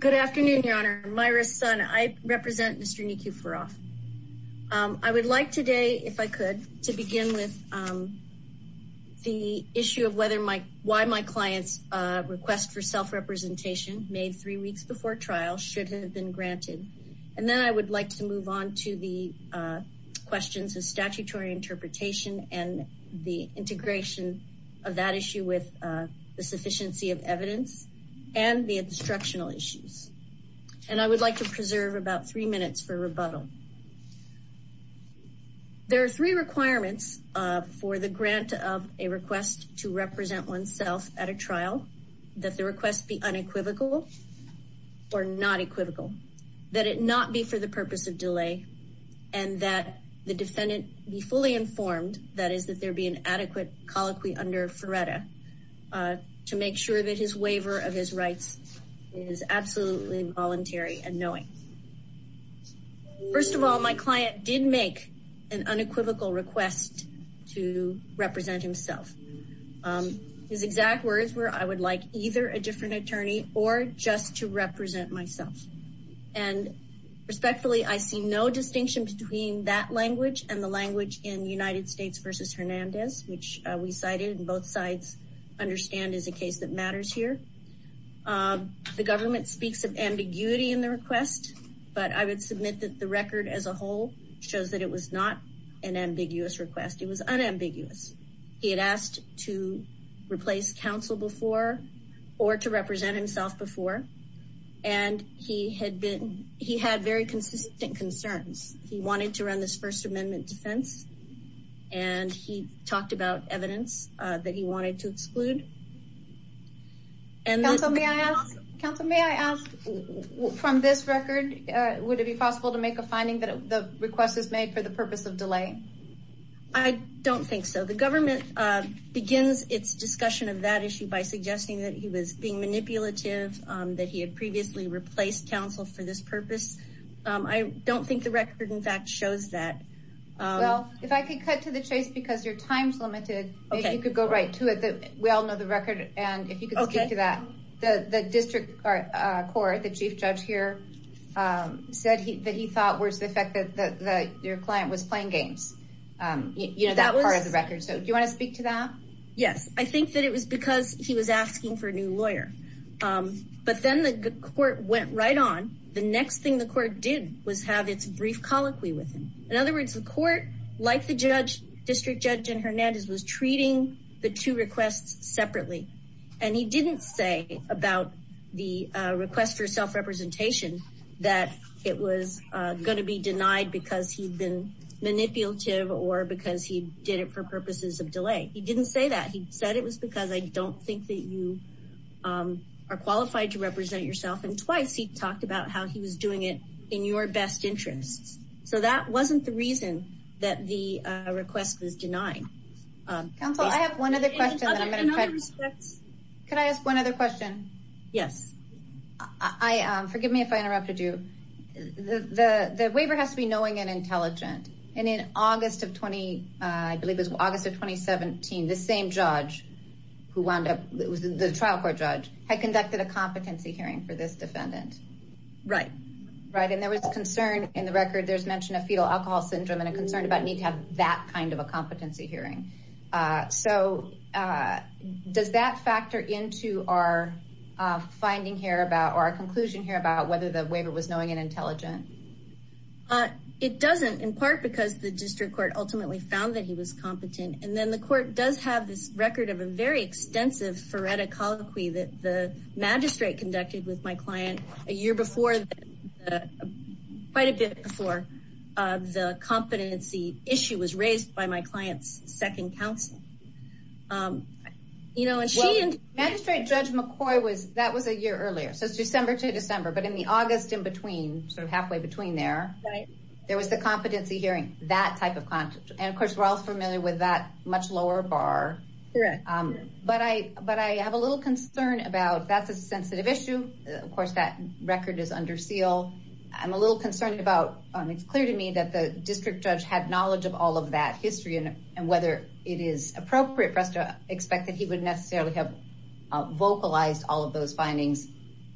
Good afternoon, Your Honor. Myra Sun. I represent Mr. Nekeferoff. I would like today, if I could, to begin with the issue of why my client's request for self-representation made three weeks before trial should have been granted. And then I would like to move on to the questions of statutory interpretation and the integration of that issue with the sufficiency of evidence and the instructional issues. And I would like to preserve about three minutes for rebuttal. There are three requirements for the grant of a request to represent oneself at a trial, that the request be unequivocal or not equivocal, that it not be for the purpose of delay, and that the defendant be fully informed, that is, that there be an adequate colloquy under FRERETA to make sure that his waiver of his rights is absolutely voluntary and knowing. First of all, my client did make an unequivocal request to represent himself. His exact words were, I would like either a different attorney or just to represent myself. And respectfully, I see no distinction between that language and the language in United States v. Hernandez, which we cited and both sides understand is a case that matters here. The government speaks of ambiguity in the request, but I would submit that the record as a whole shows that it was not an ambiguous request. It was unambiguous. He had asked to replace counsel before or to represent himself before. And he had been, he had very consistent concerns. He wanted to run this First Amendment defense, and he talked about evidence that he wanted to exclude. Counsel, may I ask from this record, would it be possible to make a finding that the request is made for the purpose of delay? I don't think so. The government begins its discussion of that issue by suggesting that he was being manipulative, that he had previously replaced counsel for this purpose. I don't think the record in fact shows that. Well, if I could cut to the chase, because your time's limited, if you could go right to it. We all know the record. And if you could speak to that, the district court, the chief judge here said that he thought was the fact that your client was playing games. You know, that was part of the record. So do you want to speak to that? Yes, I think that it was because he was asking for a new lawyer. But then the court went right on. The next thing the court did was have its brief colloquy with him. In other words, the court, like the judge, district judge, and Hernandez was treating the two requests separately. And he didn't say about the request for self-representation that it was going to be denied because he'd been manipulative or because he did it for purposes of delay. He didn't say that. He said it was because I don't think that you are qualified to represent yourself. And twice he talked about how he was doing it in your best interests. So that wasn't the reason that the request was denied. Counsel, I have one other question. Can I ask one other question? Yes. Forgive me if I interrupted you. The waiver has to be knowing and intelligent. And in August of 2017, the same judge, the trial court judge, had conducted a competency hearing for this defendant. Right. Right. And there was a concern in the record. There's mentioned a fetal alcohol syndrome and a concern about need to have that kind of a competency hearing. So does that factor into our finding here about our conclusion here about whether the waiver was knowing and intelligent? It doesn't, in part because the district court ultimately found that he was competent. And then the court does have this record of a very extensive forensic colloquy that the magistrate conducted with my client a year before, quite a bit before the competency issue was raised by my client's second counsel. You know, and she... Magistrate Judge McCoy was, that was a year earlier. So it's December to December. But in the August in between, sort of halfway between there, there was the competency hearing, that type of content. And of course, we're all familiar with that much lower bar. But I have a little concern about, that's a sensitive issue. Of course, that record is under seal. I'm a little concerned about, it's clear to me that the district judge had knowledge of all of that history and whether it is appropriate for us to expect that he would necessarily have vocalized all of those findings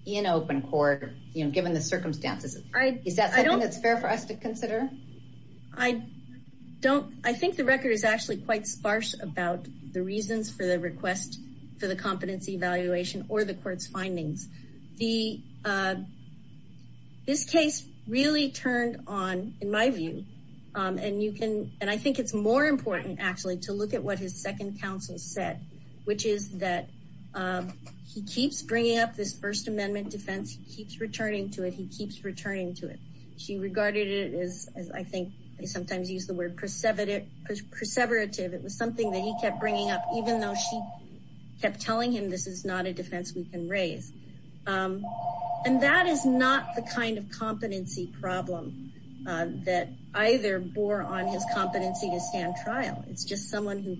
in open court, given the circumstances. Is that something that's fair for us to consider? I don't, I think the record is actually quite sparse about the reasons for the request for the competency evaluation or the court's findings. This case really turned on, in my view, and you can, and I think it's more important actually to look at what his second counsel said, which is that he keeps bringing up this First Amendment defense. He keeps returning to it. He keeps returning to it. She regarded it as, I think they sometimes use the word, perseverative. It was something that he kept bringing up, even though she kept telling him this is not a defense we can raise. And that is not the kind of competency problem that either bore on his competency to stand trial. It's just someone who,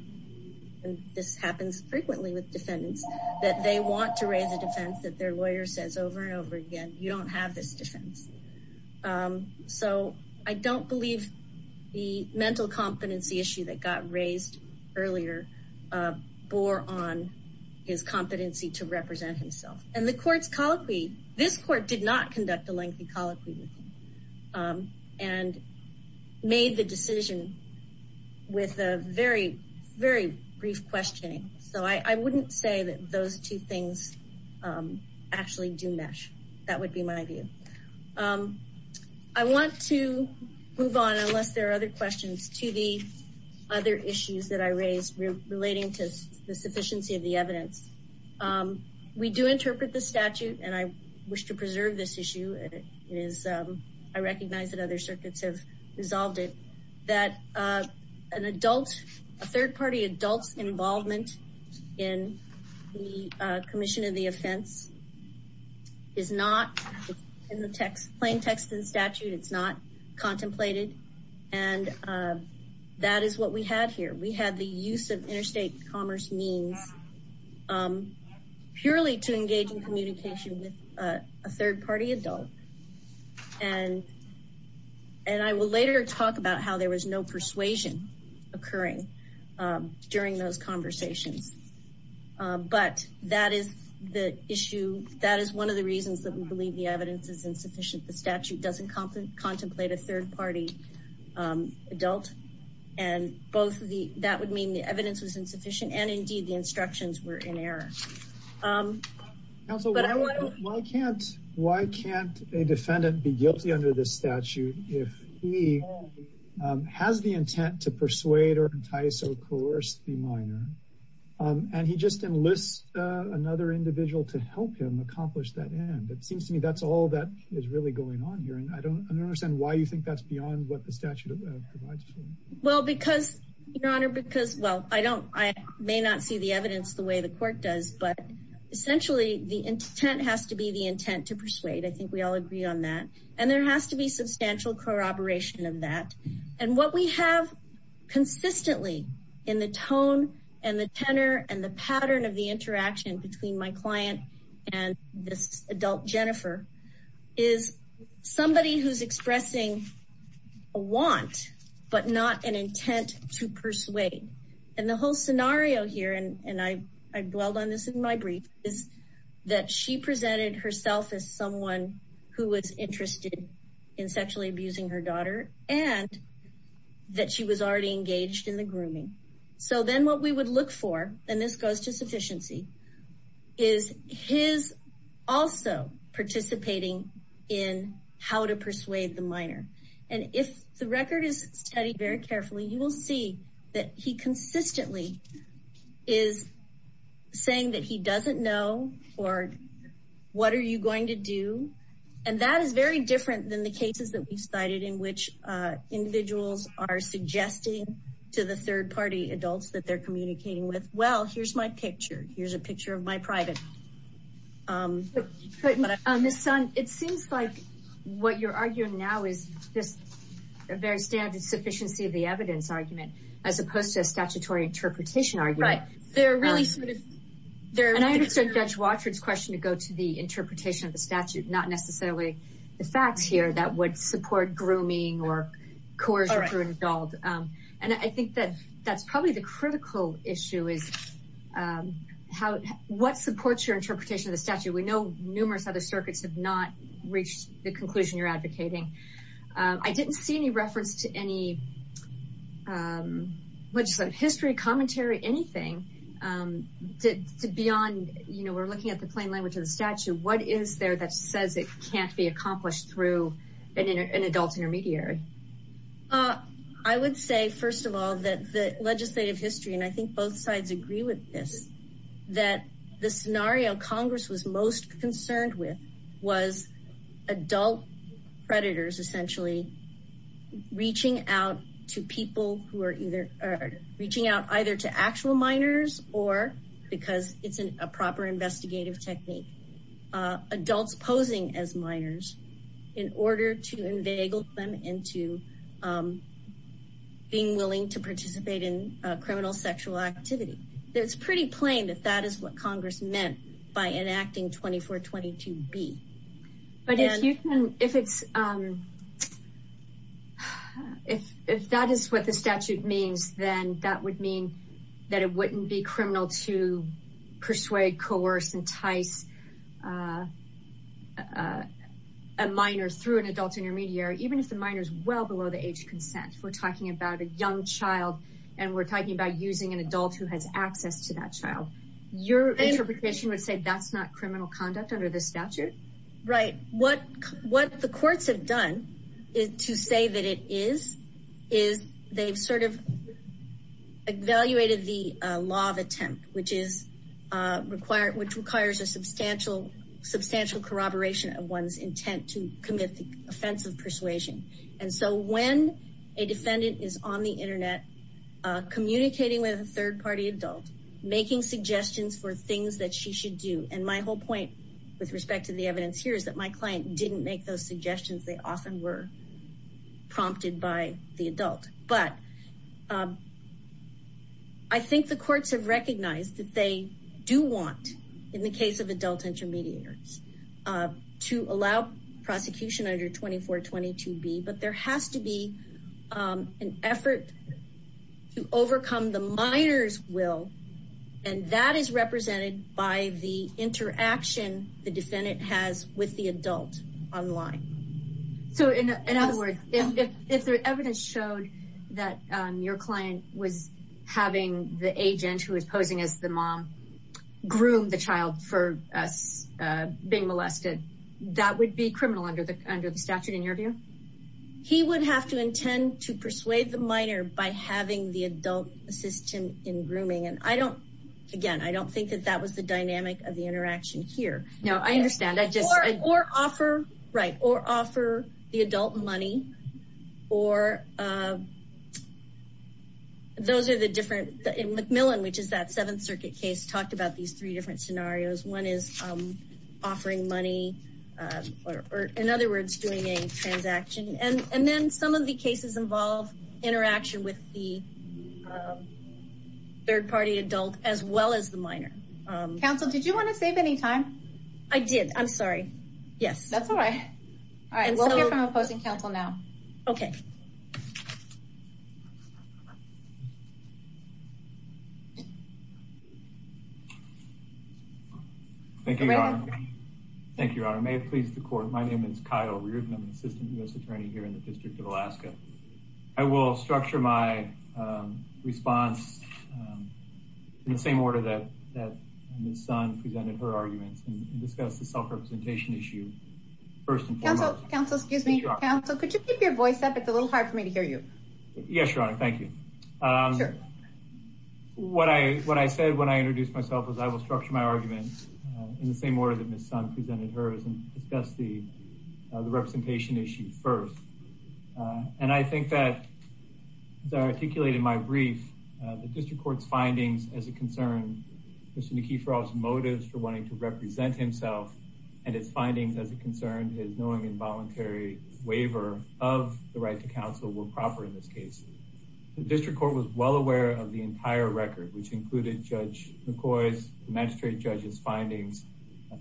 and this happens frequently with defendants, that they want to raise a defense that their lawyer says over and over again, you don't have this defense. So I don't believe the mental competency issue that got raised earlier bore on his competency to represent himself. And the court's colloquy, this court did not conduct a lengthy colloquy with him and made the decision with a very, very brief questioning. So I wouldn't say that those two things actually do mesh. That would be my view. I want to move on, unless there are other questions, to the other issues that I raised relating to the sufficiency of the evidence. We do interpret the statute, and I wish to preserve this issue. I recognize that other circuits have resolved it, that a third party adult's involvement in the commission of the offense is not in the plain text of the statute. It's not contemplated. And that is what we had here. We had the use of interstate commerce means purely to engage in communication with a third party adult. And I will later talk about how there was no persuasion occurring during those conversations. But that is the issue. That is one of the reasons that we believe the evidence is insufficient. The statute doesn't contemplate a third party adult. And that would mean the evidence was insufficient, and indeed the instructions were in error. Counsel, why can't a defendant be guilty under this statute if he has the intent to persuade or entice or coerce the minor, and he just enlists another individual to help him accomplish that end? It seems to me that's all that is really going on here, and I don't understand why you think that's beyond what the statute provides for. Well, because, Your Honor, because, well, I don't, I may not see the evidence the way the court does, but essentially the intent has to be the intent to persuade. I think we all agree on that. And there has to be substantial corroboration of that. And what we have consistently in the tone and the tenor and the pattern of the interaction between my client and this adult Jennifer is somebody who's expressing a want, but not an intent to persuade. And the whole scenario here, and I dwelled on this in my brief, is that she presented herself as someone who was interested in sexually abusing her daughter and that she was already engaged in the grooming. So then what we would look for, and this goes to sufficiency, is his also participating in how to persuade the minor. And if the record is studied very carefully, you will see that he consistently is saying that he doesn't know or what are you going to do? And that is very different than the cases that we cited in which individuals are suggesting to the third party adults that they're communicating with. Well, here's my picture. Here's a picture of my private. But on this son, it seems like what you're arguing now is this very standard sufficiency of the evidence argument as opposed to a statutory interpretation. They're really sort of there. And I understand Judge Watford's question to go to the interpretation of the statute, not necessarily the facts here that would support grooming or coercion through an adult. And I think that that's probably the critical issue is what supports your interpretation of the statute. We know numerous other circuits have not reached the conclusion you're advocating. I didn't see any reference to any history, commentary, anything beyond, you know, we're looking at the plain language of the statute. What is there that says it can't be accomplished through an adult intermediary? I would say, first of all, that the legislative history, and I think both sides agree with this, that the scenario Congress was most concerned with was adult predators essentially reaching out to people who are either reaching out either to actual minors or because it's a proper investigative technique. Adults posing as minors in order to inveigle them into being willing to participate in criminal sexual activity. It's pretty plain that that is what Congress meant by enacting 24-22-B. But if that is what the statute means, then that would mean that it wouldn't be criminal to persuade, coerce, entice a minor through an adult intermediary, even if the minor is well below the age consent. If we're talking about a young child and we're talking about using an adult who has access to that child, your interpretation would say that's not criminal conduct under the statute? Right. What the courts have done to say that it is, is they've sort of evaluated the law of attempt, which requires a substantial corroboration of one's intent to commit the offense of persuasion. And so when a defendant is on the internet communicating with a third party adult, making suggestions for things that she should do, and my whole point with respect to the evidence here is that my client didn't make those suggestions. They often were prompted by the adult, but I think the courts have recognized that they do want, in the case of adult intermediaries, to allow prosecution under 24-22-B. But there has to be an effort to overcome the minor's will, and that is represented by the interaction the defendant has with the adult online. So in other words, if the evidence showed that your client was having the agent who was posing as the mom groom the child for us being molested, that would be criminal under the statute in your view? He would have to intend to persuade the minor by having the adult assist him in grooming. And I don't, again, I don't think that that was the dynamic of the interaction here. No, I understand. Or offer, right, or offer the adult money, or those are the different, in McMillan, which is that Seventh Circuit case, talked about these three different scenarios. One is offering money, or in other words, doing a transaction. And then some of the cases involve interaction with the third party adult as well as the minor. Counsel, did you want to save any time? I did, I'm sorry. Yes. That's all right. All right, we'll hear from opposing counsel now. Okay. Thank you, Your Honor. Thank you, Your Honor. May it please the court, my name is Kyle Reardon. I'm an assistant U.S. attorney here in the District of Alaska. I will structure my response in the same order that Ms. Sun presented her arguments and discuss the self-representation issue first and foremost. Counsel, excuse me, counsel, could you keep your voice up? It's a little hard for me to hear you. Yes, Your Honor, thank you. Sure. What I said when I introduced myself was I will structure my argument in the same order that Ms. Sun presented hers and discuss the representation issue first. And I think that, as I articulated in my brief, the District Court's findings as it concerned Mr. Nikiforov's motives for wanting to represent himself and its findings as it concerned his knowing involuntary waiver of the right to counsel were proper in this case. The District Court was well aware of the entire record, which included Judge McCoy's and the magistrate judge's findings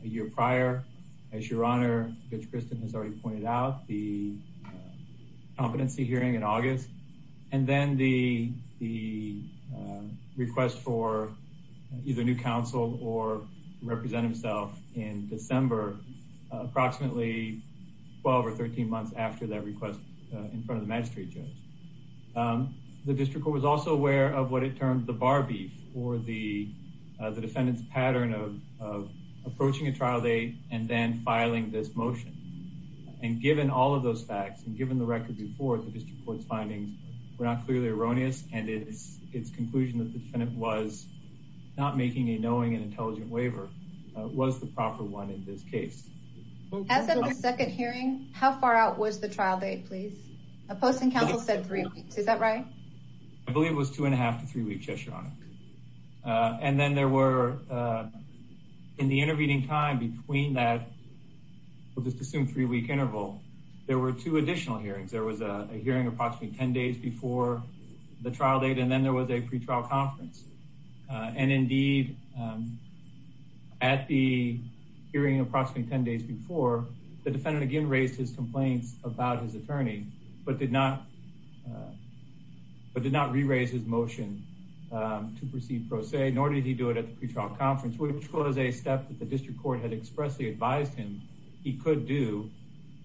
a year prior. As Your Honor, Judge Kristen has already pointed out, the competency hearing in August and then the request for either new counsel or represent himself in December, approximately 12 or 13 months after that request in front of the magistrate judge. The District Court was also aware of what it termed the bar beef or the defendant's pattern of approaching a trial date and then filing this motion. And given all of those facts and given the record before, the District Court's findings were not clearly erroneous and its conclusion that the defendant was not making a knowing and intelligent waiver was the proper one in this case. As of the second hearing, how far out was the trial date, please? Posting counsel said three weeks, is that right? I believe it was two and a half to three weeks, Yes, Your Honor. And then there were, in the intervening time between that, we'll just assume three week interval, there were two additional hearings. There was a hearing approximately 10 days before the trial date, and then there was a pretrial conference. And indeed, at the hearing approximately 10 days before, the defendant again raised his complaints about his attorney, but did not re-raise his motion to proceed pro se, nor did he do it at the pretrial conference, which was a step that the District Court had expressly advised him he could do,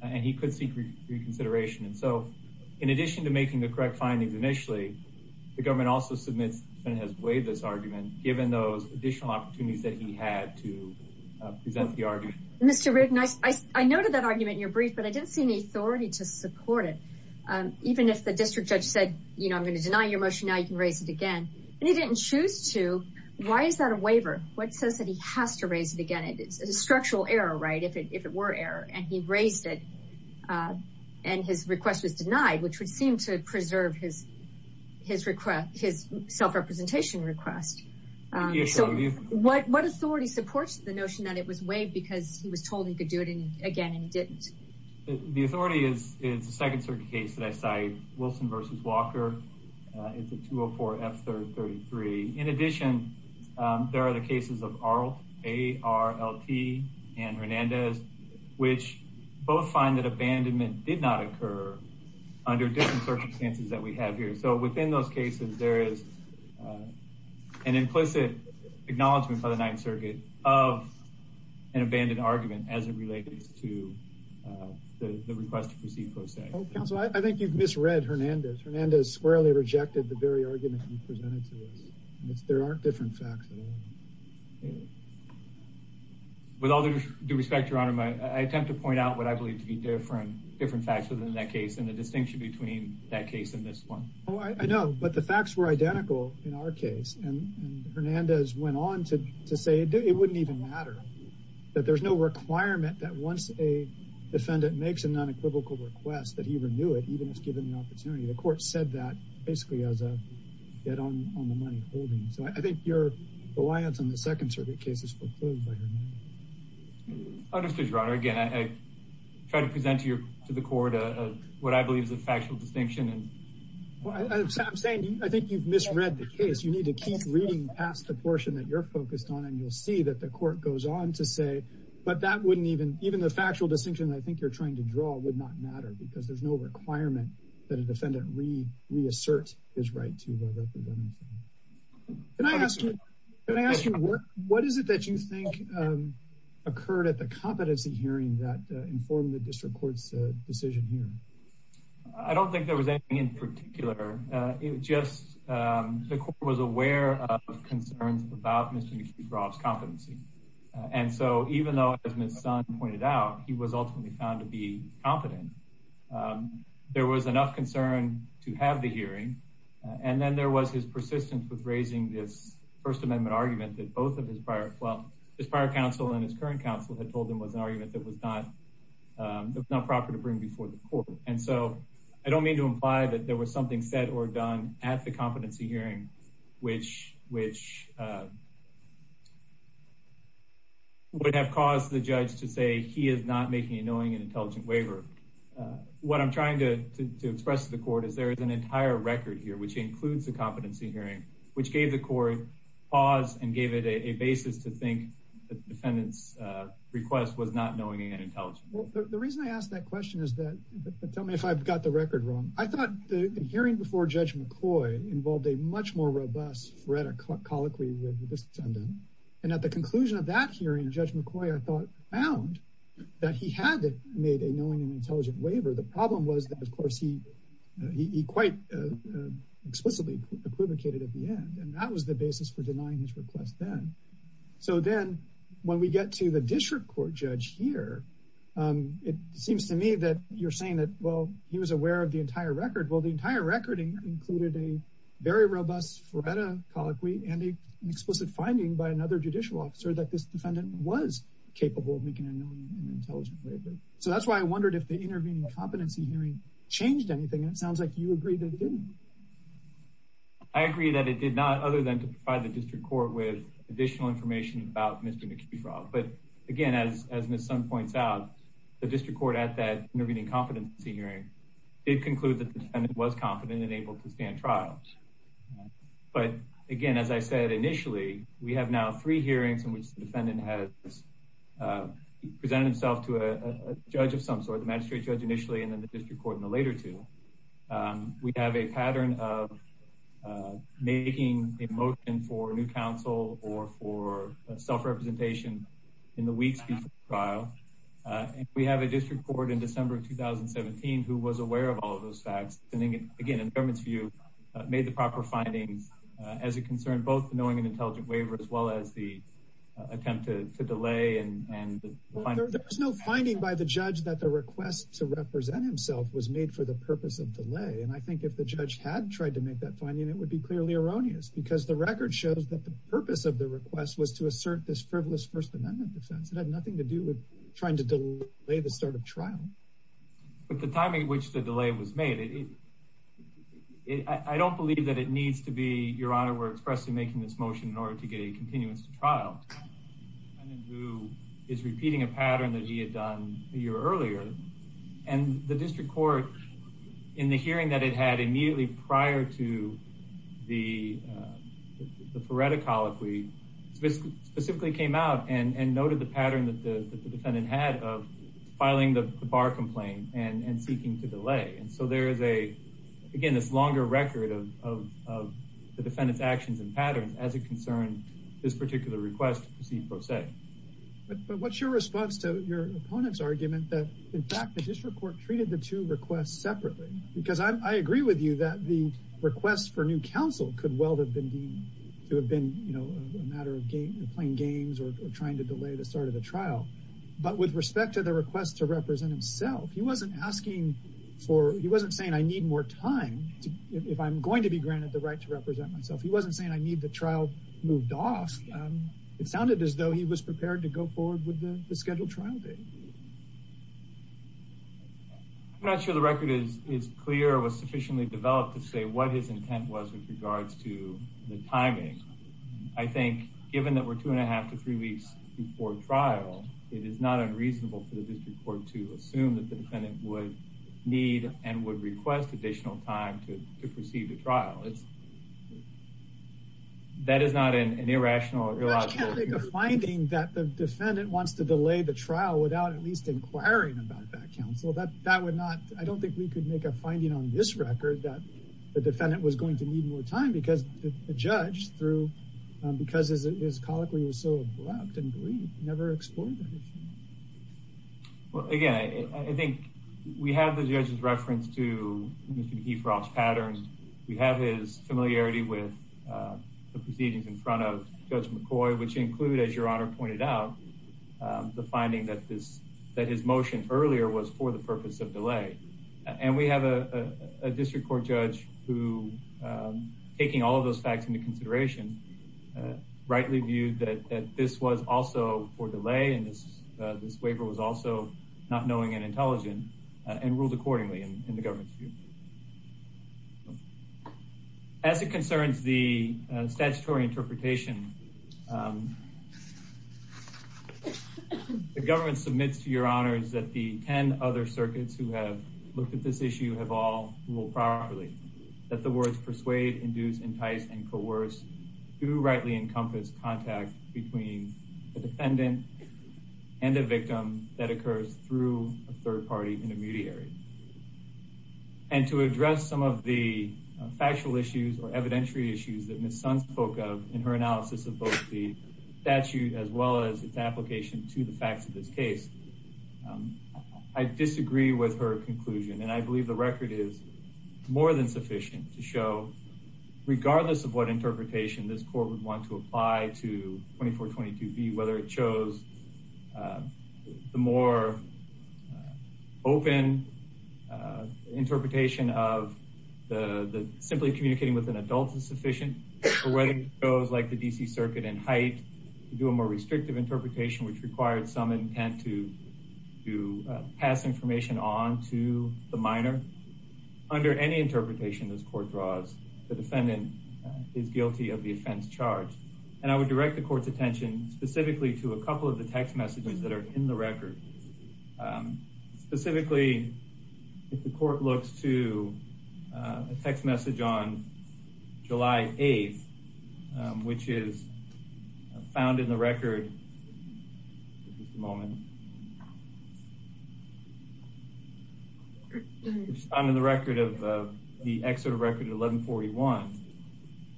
and he could seek reconsideration. And so, in addition to making the correct findings initially, the government also submits, the defendant has waived this argument, given those additional opportunities that he had to present the argument. Mr. Rigdon, I noted that argument in your brief, but I didn't see any authority to support it. Even if the district judge said, you know, I'm going to deny your motion, now you can raise it again, and he didn't choose to, why is that a waiver? What says that he has to raise it again? It's a structural error, right, if it were error, and he raised it, and his request was denied, which would seem to preserve his self-representation request. So, what authority supports the notion that it was waived because he was told he could do it again, and he didn't? The authority is the Second Circuit case that I cite, Wilson v. Walker, it's a 204-F333. In addition, there are the cases of Arlt, A-R-L-T, and Hernandez, which both find that abandonment did not occur under different circumstances that we have here. So, within those cases, there is an implicit acknowledgment by the Ninth Circuit of an abandoned argument as it relates to the request to proceed post-act. Counsel, I think you've misread Hernandez. Hernandez squarely rejected the very argument you presented to us. There aren't different facts. With all due respect, Your Honor, I attempt to point out what I believe to be different facts within that case and the distinction between that case and this one. Oh, I know, but the facts were identical in our case, and Hernandez went on to say it wouldn't even matter. That there's no requirement that once a defendant makes a non-equivocal request that he renew it, even if given the opportunity. The court said that basically as a get-on-the-money holding. So, I think your reliance on the Second Circuit case is foreclosed by Your Honor. Understood, Your Honor. Again, I try to present to the court what I believe is a factual distinction. I'm saying I think you've misread the case. You need to keep reading past the portion that you're focused on, and you'll see that the court goes on to say, but that wouldn't even, even the factual distinction I think you're trying to draw would not matter because there's no requirement that a defendant reassert his right to represent himself. Can I ask you, can I ask you, what is it that you think occurred at the competency hearing that informed the District Court's decision here? I don't think there was anything in particular. It just, the court was aware of concerns about Mr. McGraw's competency. And so, even though, as Ms. Sun pointed out, he was ultimately found to be competent, there was enough concern to have the hearing. And then there was his persistence with raising this First Amendment argument that both of his prior, well, his prior counsel and his current counsel had told him was an argument that was not proper to bring before the court. And so, I don't mean to imply that there was something said or done at the competency hearing, which would have caused the judge to say he is not making a knowing and intelligent waiver. What I'm trying to express to the court is there is an entire record here, which includes the competency hearing, which gave the court pause and gave it a basis to think the defendant's request was not knowing and intelligent. Well, the reason I ask that question is that, tell me if I've got the record wrong. I thought the hearing before Judge McCoy involved a much more robust rhetoric colloquy with the defendant. And at the conclusion of that hearing, Judge McCoy, I thought, found that he had made a knowing and intelligent waiver. The problem was that, of course, he quite explicitly equivocated at the end. And that was the basis for denying his request then. So then, when we get to the district court judge here, it seems to me that you're saying that, well, he was aware of the entire record. Well, the entire record included a very robust rhetoric colloquy and an explicit finding by another judicial officer that this defendant was capable of making a knowing and intelligent waiver. So that's why I wondered if the intervening competency hearing changed anything. And it sounds like you agree that it didn't. I agree that it did not, other than to provide the district court with additional information about Mr. McIntosh. But, again, as Ms. Sun points out, the district court at that intervening competency hearing did conclude that the defendant was confident and able to stand trial. But, again, as I said initially, we have now three hearings in which the defendant has presented himself to a judge of some sort, the magistrate judge initially and then the district court in the later two. We have a pattern of making a motion for new counsel or for self-representation in the weeks before trial. And we have a district court in December of 2017 who was aware of all of those facts. And, again, in the government's view, made the proper findings as it concerned both the knowing and intelligent waiver as well as the attempt to delay. There was no finding by the judge that the request to represent himself was made for the purpose of delay. And I think if the judge had tried to make that finding, it would be clearly erroneous because the record shows that the purpose of the request was to assert this frivolous First Amendment defense. It had nothing to do with trying to delay the start of trial. But the timing at which the delay was made, I don't believe that it needs to be, Your Honor, we're expressing making this motion in order to get a continuance to trial. Who is repeating a pattern that he had done a year earlier. And the district court in the hearing that it had immediately prior to the foretocol, if we specifically came out and noted the pattern that the defendant had of filing the bar complaint and seeking to delay. And so there is a, again, this longer record of the defendant's actions and patterns as it concerned this particular request to proceed pro se. But what's your response to your opponent's argument that, in fact, the district court treated the two requests separately? Because I agree with you that the request for new counsel could well have been deemed to have been a matter of playing games or trying to delay the start of the trial. But with respect to the request to represent himself, he wasn't asking for, he wasn't saying I need more time if I'm going to be granted the right to represent myself. He wasn't saying I need the trial moved off. It sounded as though he was prepared to go forward with the scheduled trial date. I'm not sure the record is clear or was sufficiently developed to say what his intent was with regards to the timing. I think, given that we're two and a half to three weeks before trial, it is not unreasonable for the district court to assume that the defendant would need and would request additional time to proceed the trial. That is not an irrational or illogical. I don't think we could make a finding that the defendant wants to delay the trial without at least inquiring about that counsel. That would not, I don't think we could make a finding on this record that the defendant was going to need more time because the judge, because his colloquy was so abrupt and brief, never explored the issue. Well, again, I think we have the judge's reference to Mr. DeFrost's pattern. We have his familiarity with the proceedings in front of Judge McCoy, which include, as your honor pointed out, the finding that his motion earlier was for the purpose of delay. And we have a district court judge who, taking all of those facts into consideration, rightly viewed that this was also for delay and this waiver was also not knowing and intelligent and ruled accordingly in the government's view. As it concerns the statutory interpretation, the government submits to your honors that the 10 other circuits who have looked at this issue have all ruled properly. That the words persuade, induce, entice, and coerce do rightly encompass contact between the defendant and the victim that occurs through a third party intermediary. And to address some of the factual issues or evidentiary issues that Ms. Sun spoke of in her analysis of both the statute as well as its application to the facts of this case, I disagree with her conclusion. And I believe the record is more than sufficient to show, regardless of what interpretation this court would want to apply to 2422B, whether it shows the more open interpretation of the simply communicating with an adult is sufficient, or whether it goes like the D.C. Circuit in Haidt to do a more restrictive interpretation which required some intent to pass information on to the minor. Under any interpretation this court draws, the defendant is guilty of the offense charged. And I would direct the court's attention specifically to a couple of the text messages that are in the record. Specifically, if the court looks to a text message on July 8th, which is found in the record of the excerpt of record 1141,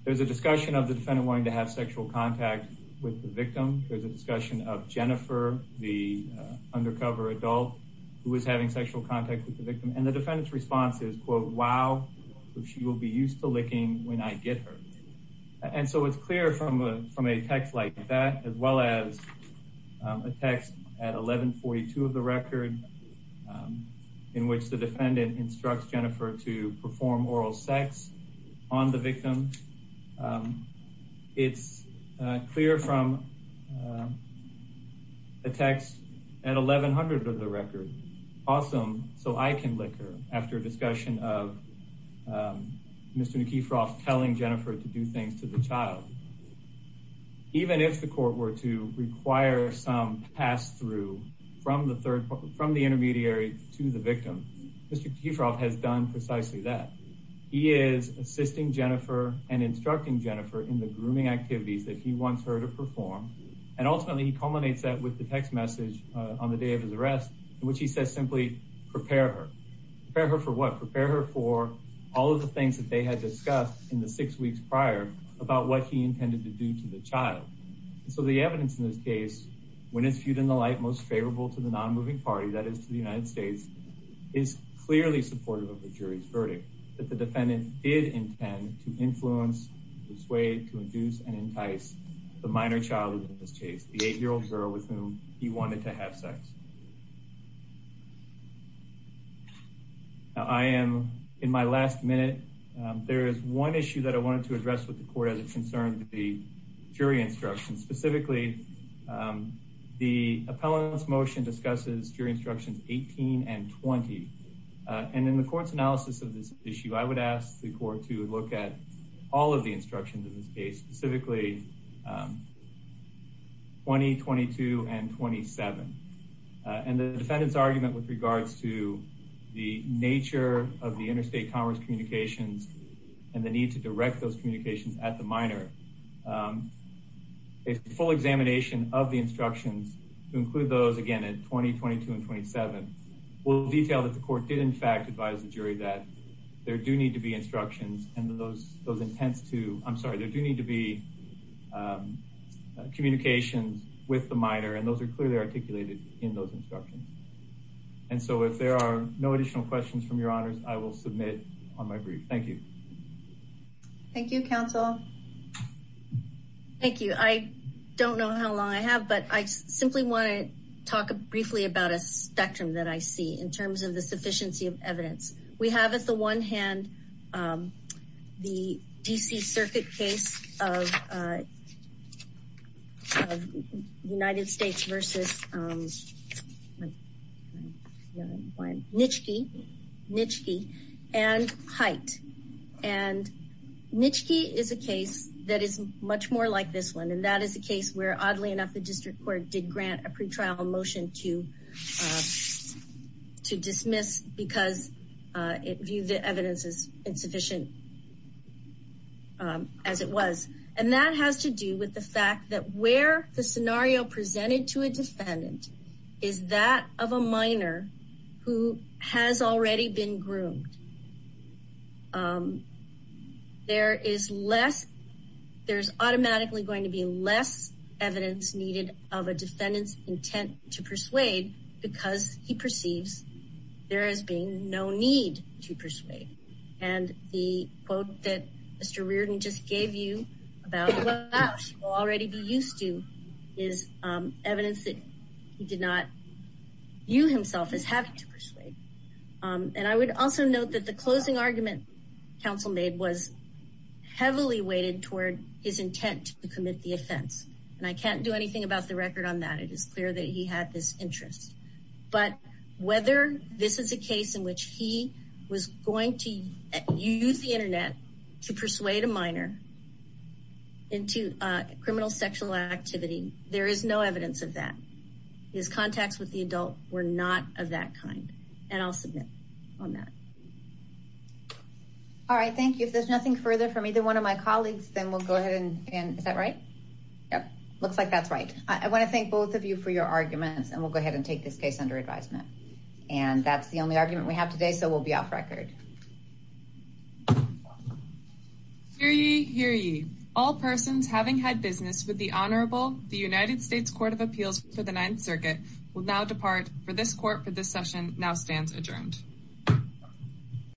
there's a discussion of the defendant wanting to have sexual contact with the victim. There's a discussion of Jennifer, the undercover adult who was having sexual contact with the victim. And the defendant's response is, quote, wow, she will be used to licking when I get her. And so it's clear from a text like that, as well as a text at 1142 of the record in which the defendant instructs Jennifer to perform oral sex on the victim. It's clear from a text at 1100 of the record, awesome, so I can lick her, after a discussion of Mr. Nikiforov telling Jennifer to do things to the child. Even if the court were to require some pass through from the intermediary to the victim, Mr. Nikiforov has done precisely that. He is assisting Jennifer and instructing Jennifer in the grooming activities that he wants her to perform. And ultimately, he culminates that with the text message on the day of his arrest, in which he says simply, prepare her. Prepare her for what? Prepare her for all of the things that they had discussed in the six weeks prior about what he intended to do to the child. So the evidence in this case, when it's viewed in the light most favorable to the non-moving party, that is to the United States, is clearly supportive of the jury's verdict. That the defendant did intend to influence, persuade, to induce and entice the minor child in this case, the eight-year-old girl with whom he wanted to have sex. I am, in my last minute, there is one issue that I wanted to address with the court as it concerned the jury instructions. Specifically, the appellant's motion discusses jury instructions 18 and 20. And in the court's analysis of this issue, I would ask the court to look at all of the instructions in this case. Specifically, 20, 22, and 27. And the defendant's argument with regards to the nature of the interstate commerce communications and the need to direct those communications at the minor. A full examination of the instructions to include those, again, in 20, 22, and 27, will detail that the court did in fact advise the jury that there do need to be instructions. And those intents to, I'm sorry, there do need to be communications with the minor. And those are clearly articulated in those instructions. And so if there are no additional questions from your honors, I will submit on my brief. Thank you. Thank you, counsel. Thank you. I don't know how long I have, but I simply want to talk briefly about a spectrum that I see in terms of the sufficiency of evidence. We have at the one hand, the D.C. Circuit case of United States versus Nitschke and Hite. And Nitschke is a case that is much more like this one. And that is a case where, oddly enough, the district court did grant a pretrial motion to dismiss because it viewed the evidence as insufficient as it was. And that has to do with the fact that where the scenario presented to a defendant is that of a minor who has already been groomed. There is less, there's automatically going to be less evidence needed of a defendant's intent to persuade because he perceives there has been no need to persuade. And the quote that Mr. Reardon just gave you about what she will already be used to is evidence that he did not view himself as having to persuade. And I would also note that the closing argument counsel made was heavily weighted toward his intent to commit the offense. And I can't do anything about the record on that. It is clear that he had this interest. But whether this is a case in which he was going to use the internet to persuade a minor into criminal sexual activity, there is no evidence of that. His contacts with the adult were not of that kind. And I'll submit on that. All right, thank you. If there's nothing further from either one of my colleagues, then we'll go ahead and, is that right? Yep, looks like that's right. I want to thank both of you for your arguments, and we'll go ahead and take this case under advisement. And that's the only argument we have today, so we'll be off record. Hear ye, hear ye. All persons having had business with the Honorable the United States Court of Appeals for the Ninth Circuit will now depart for this court for this session now stands adjourned.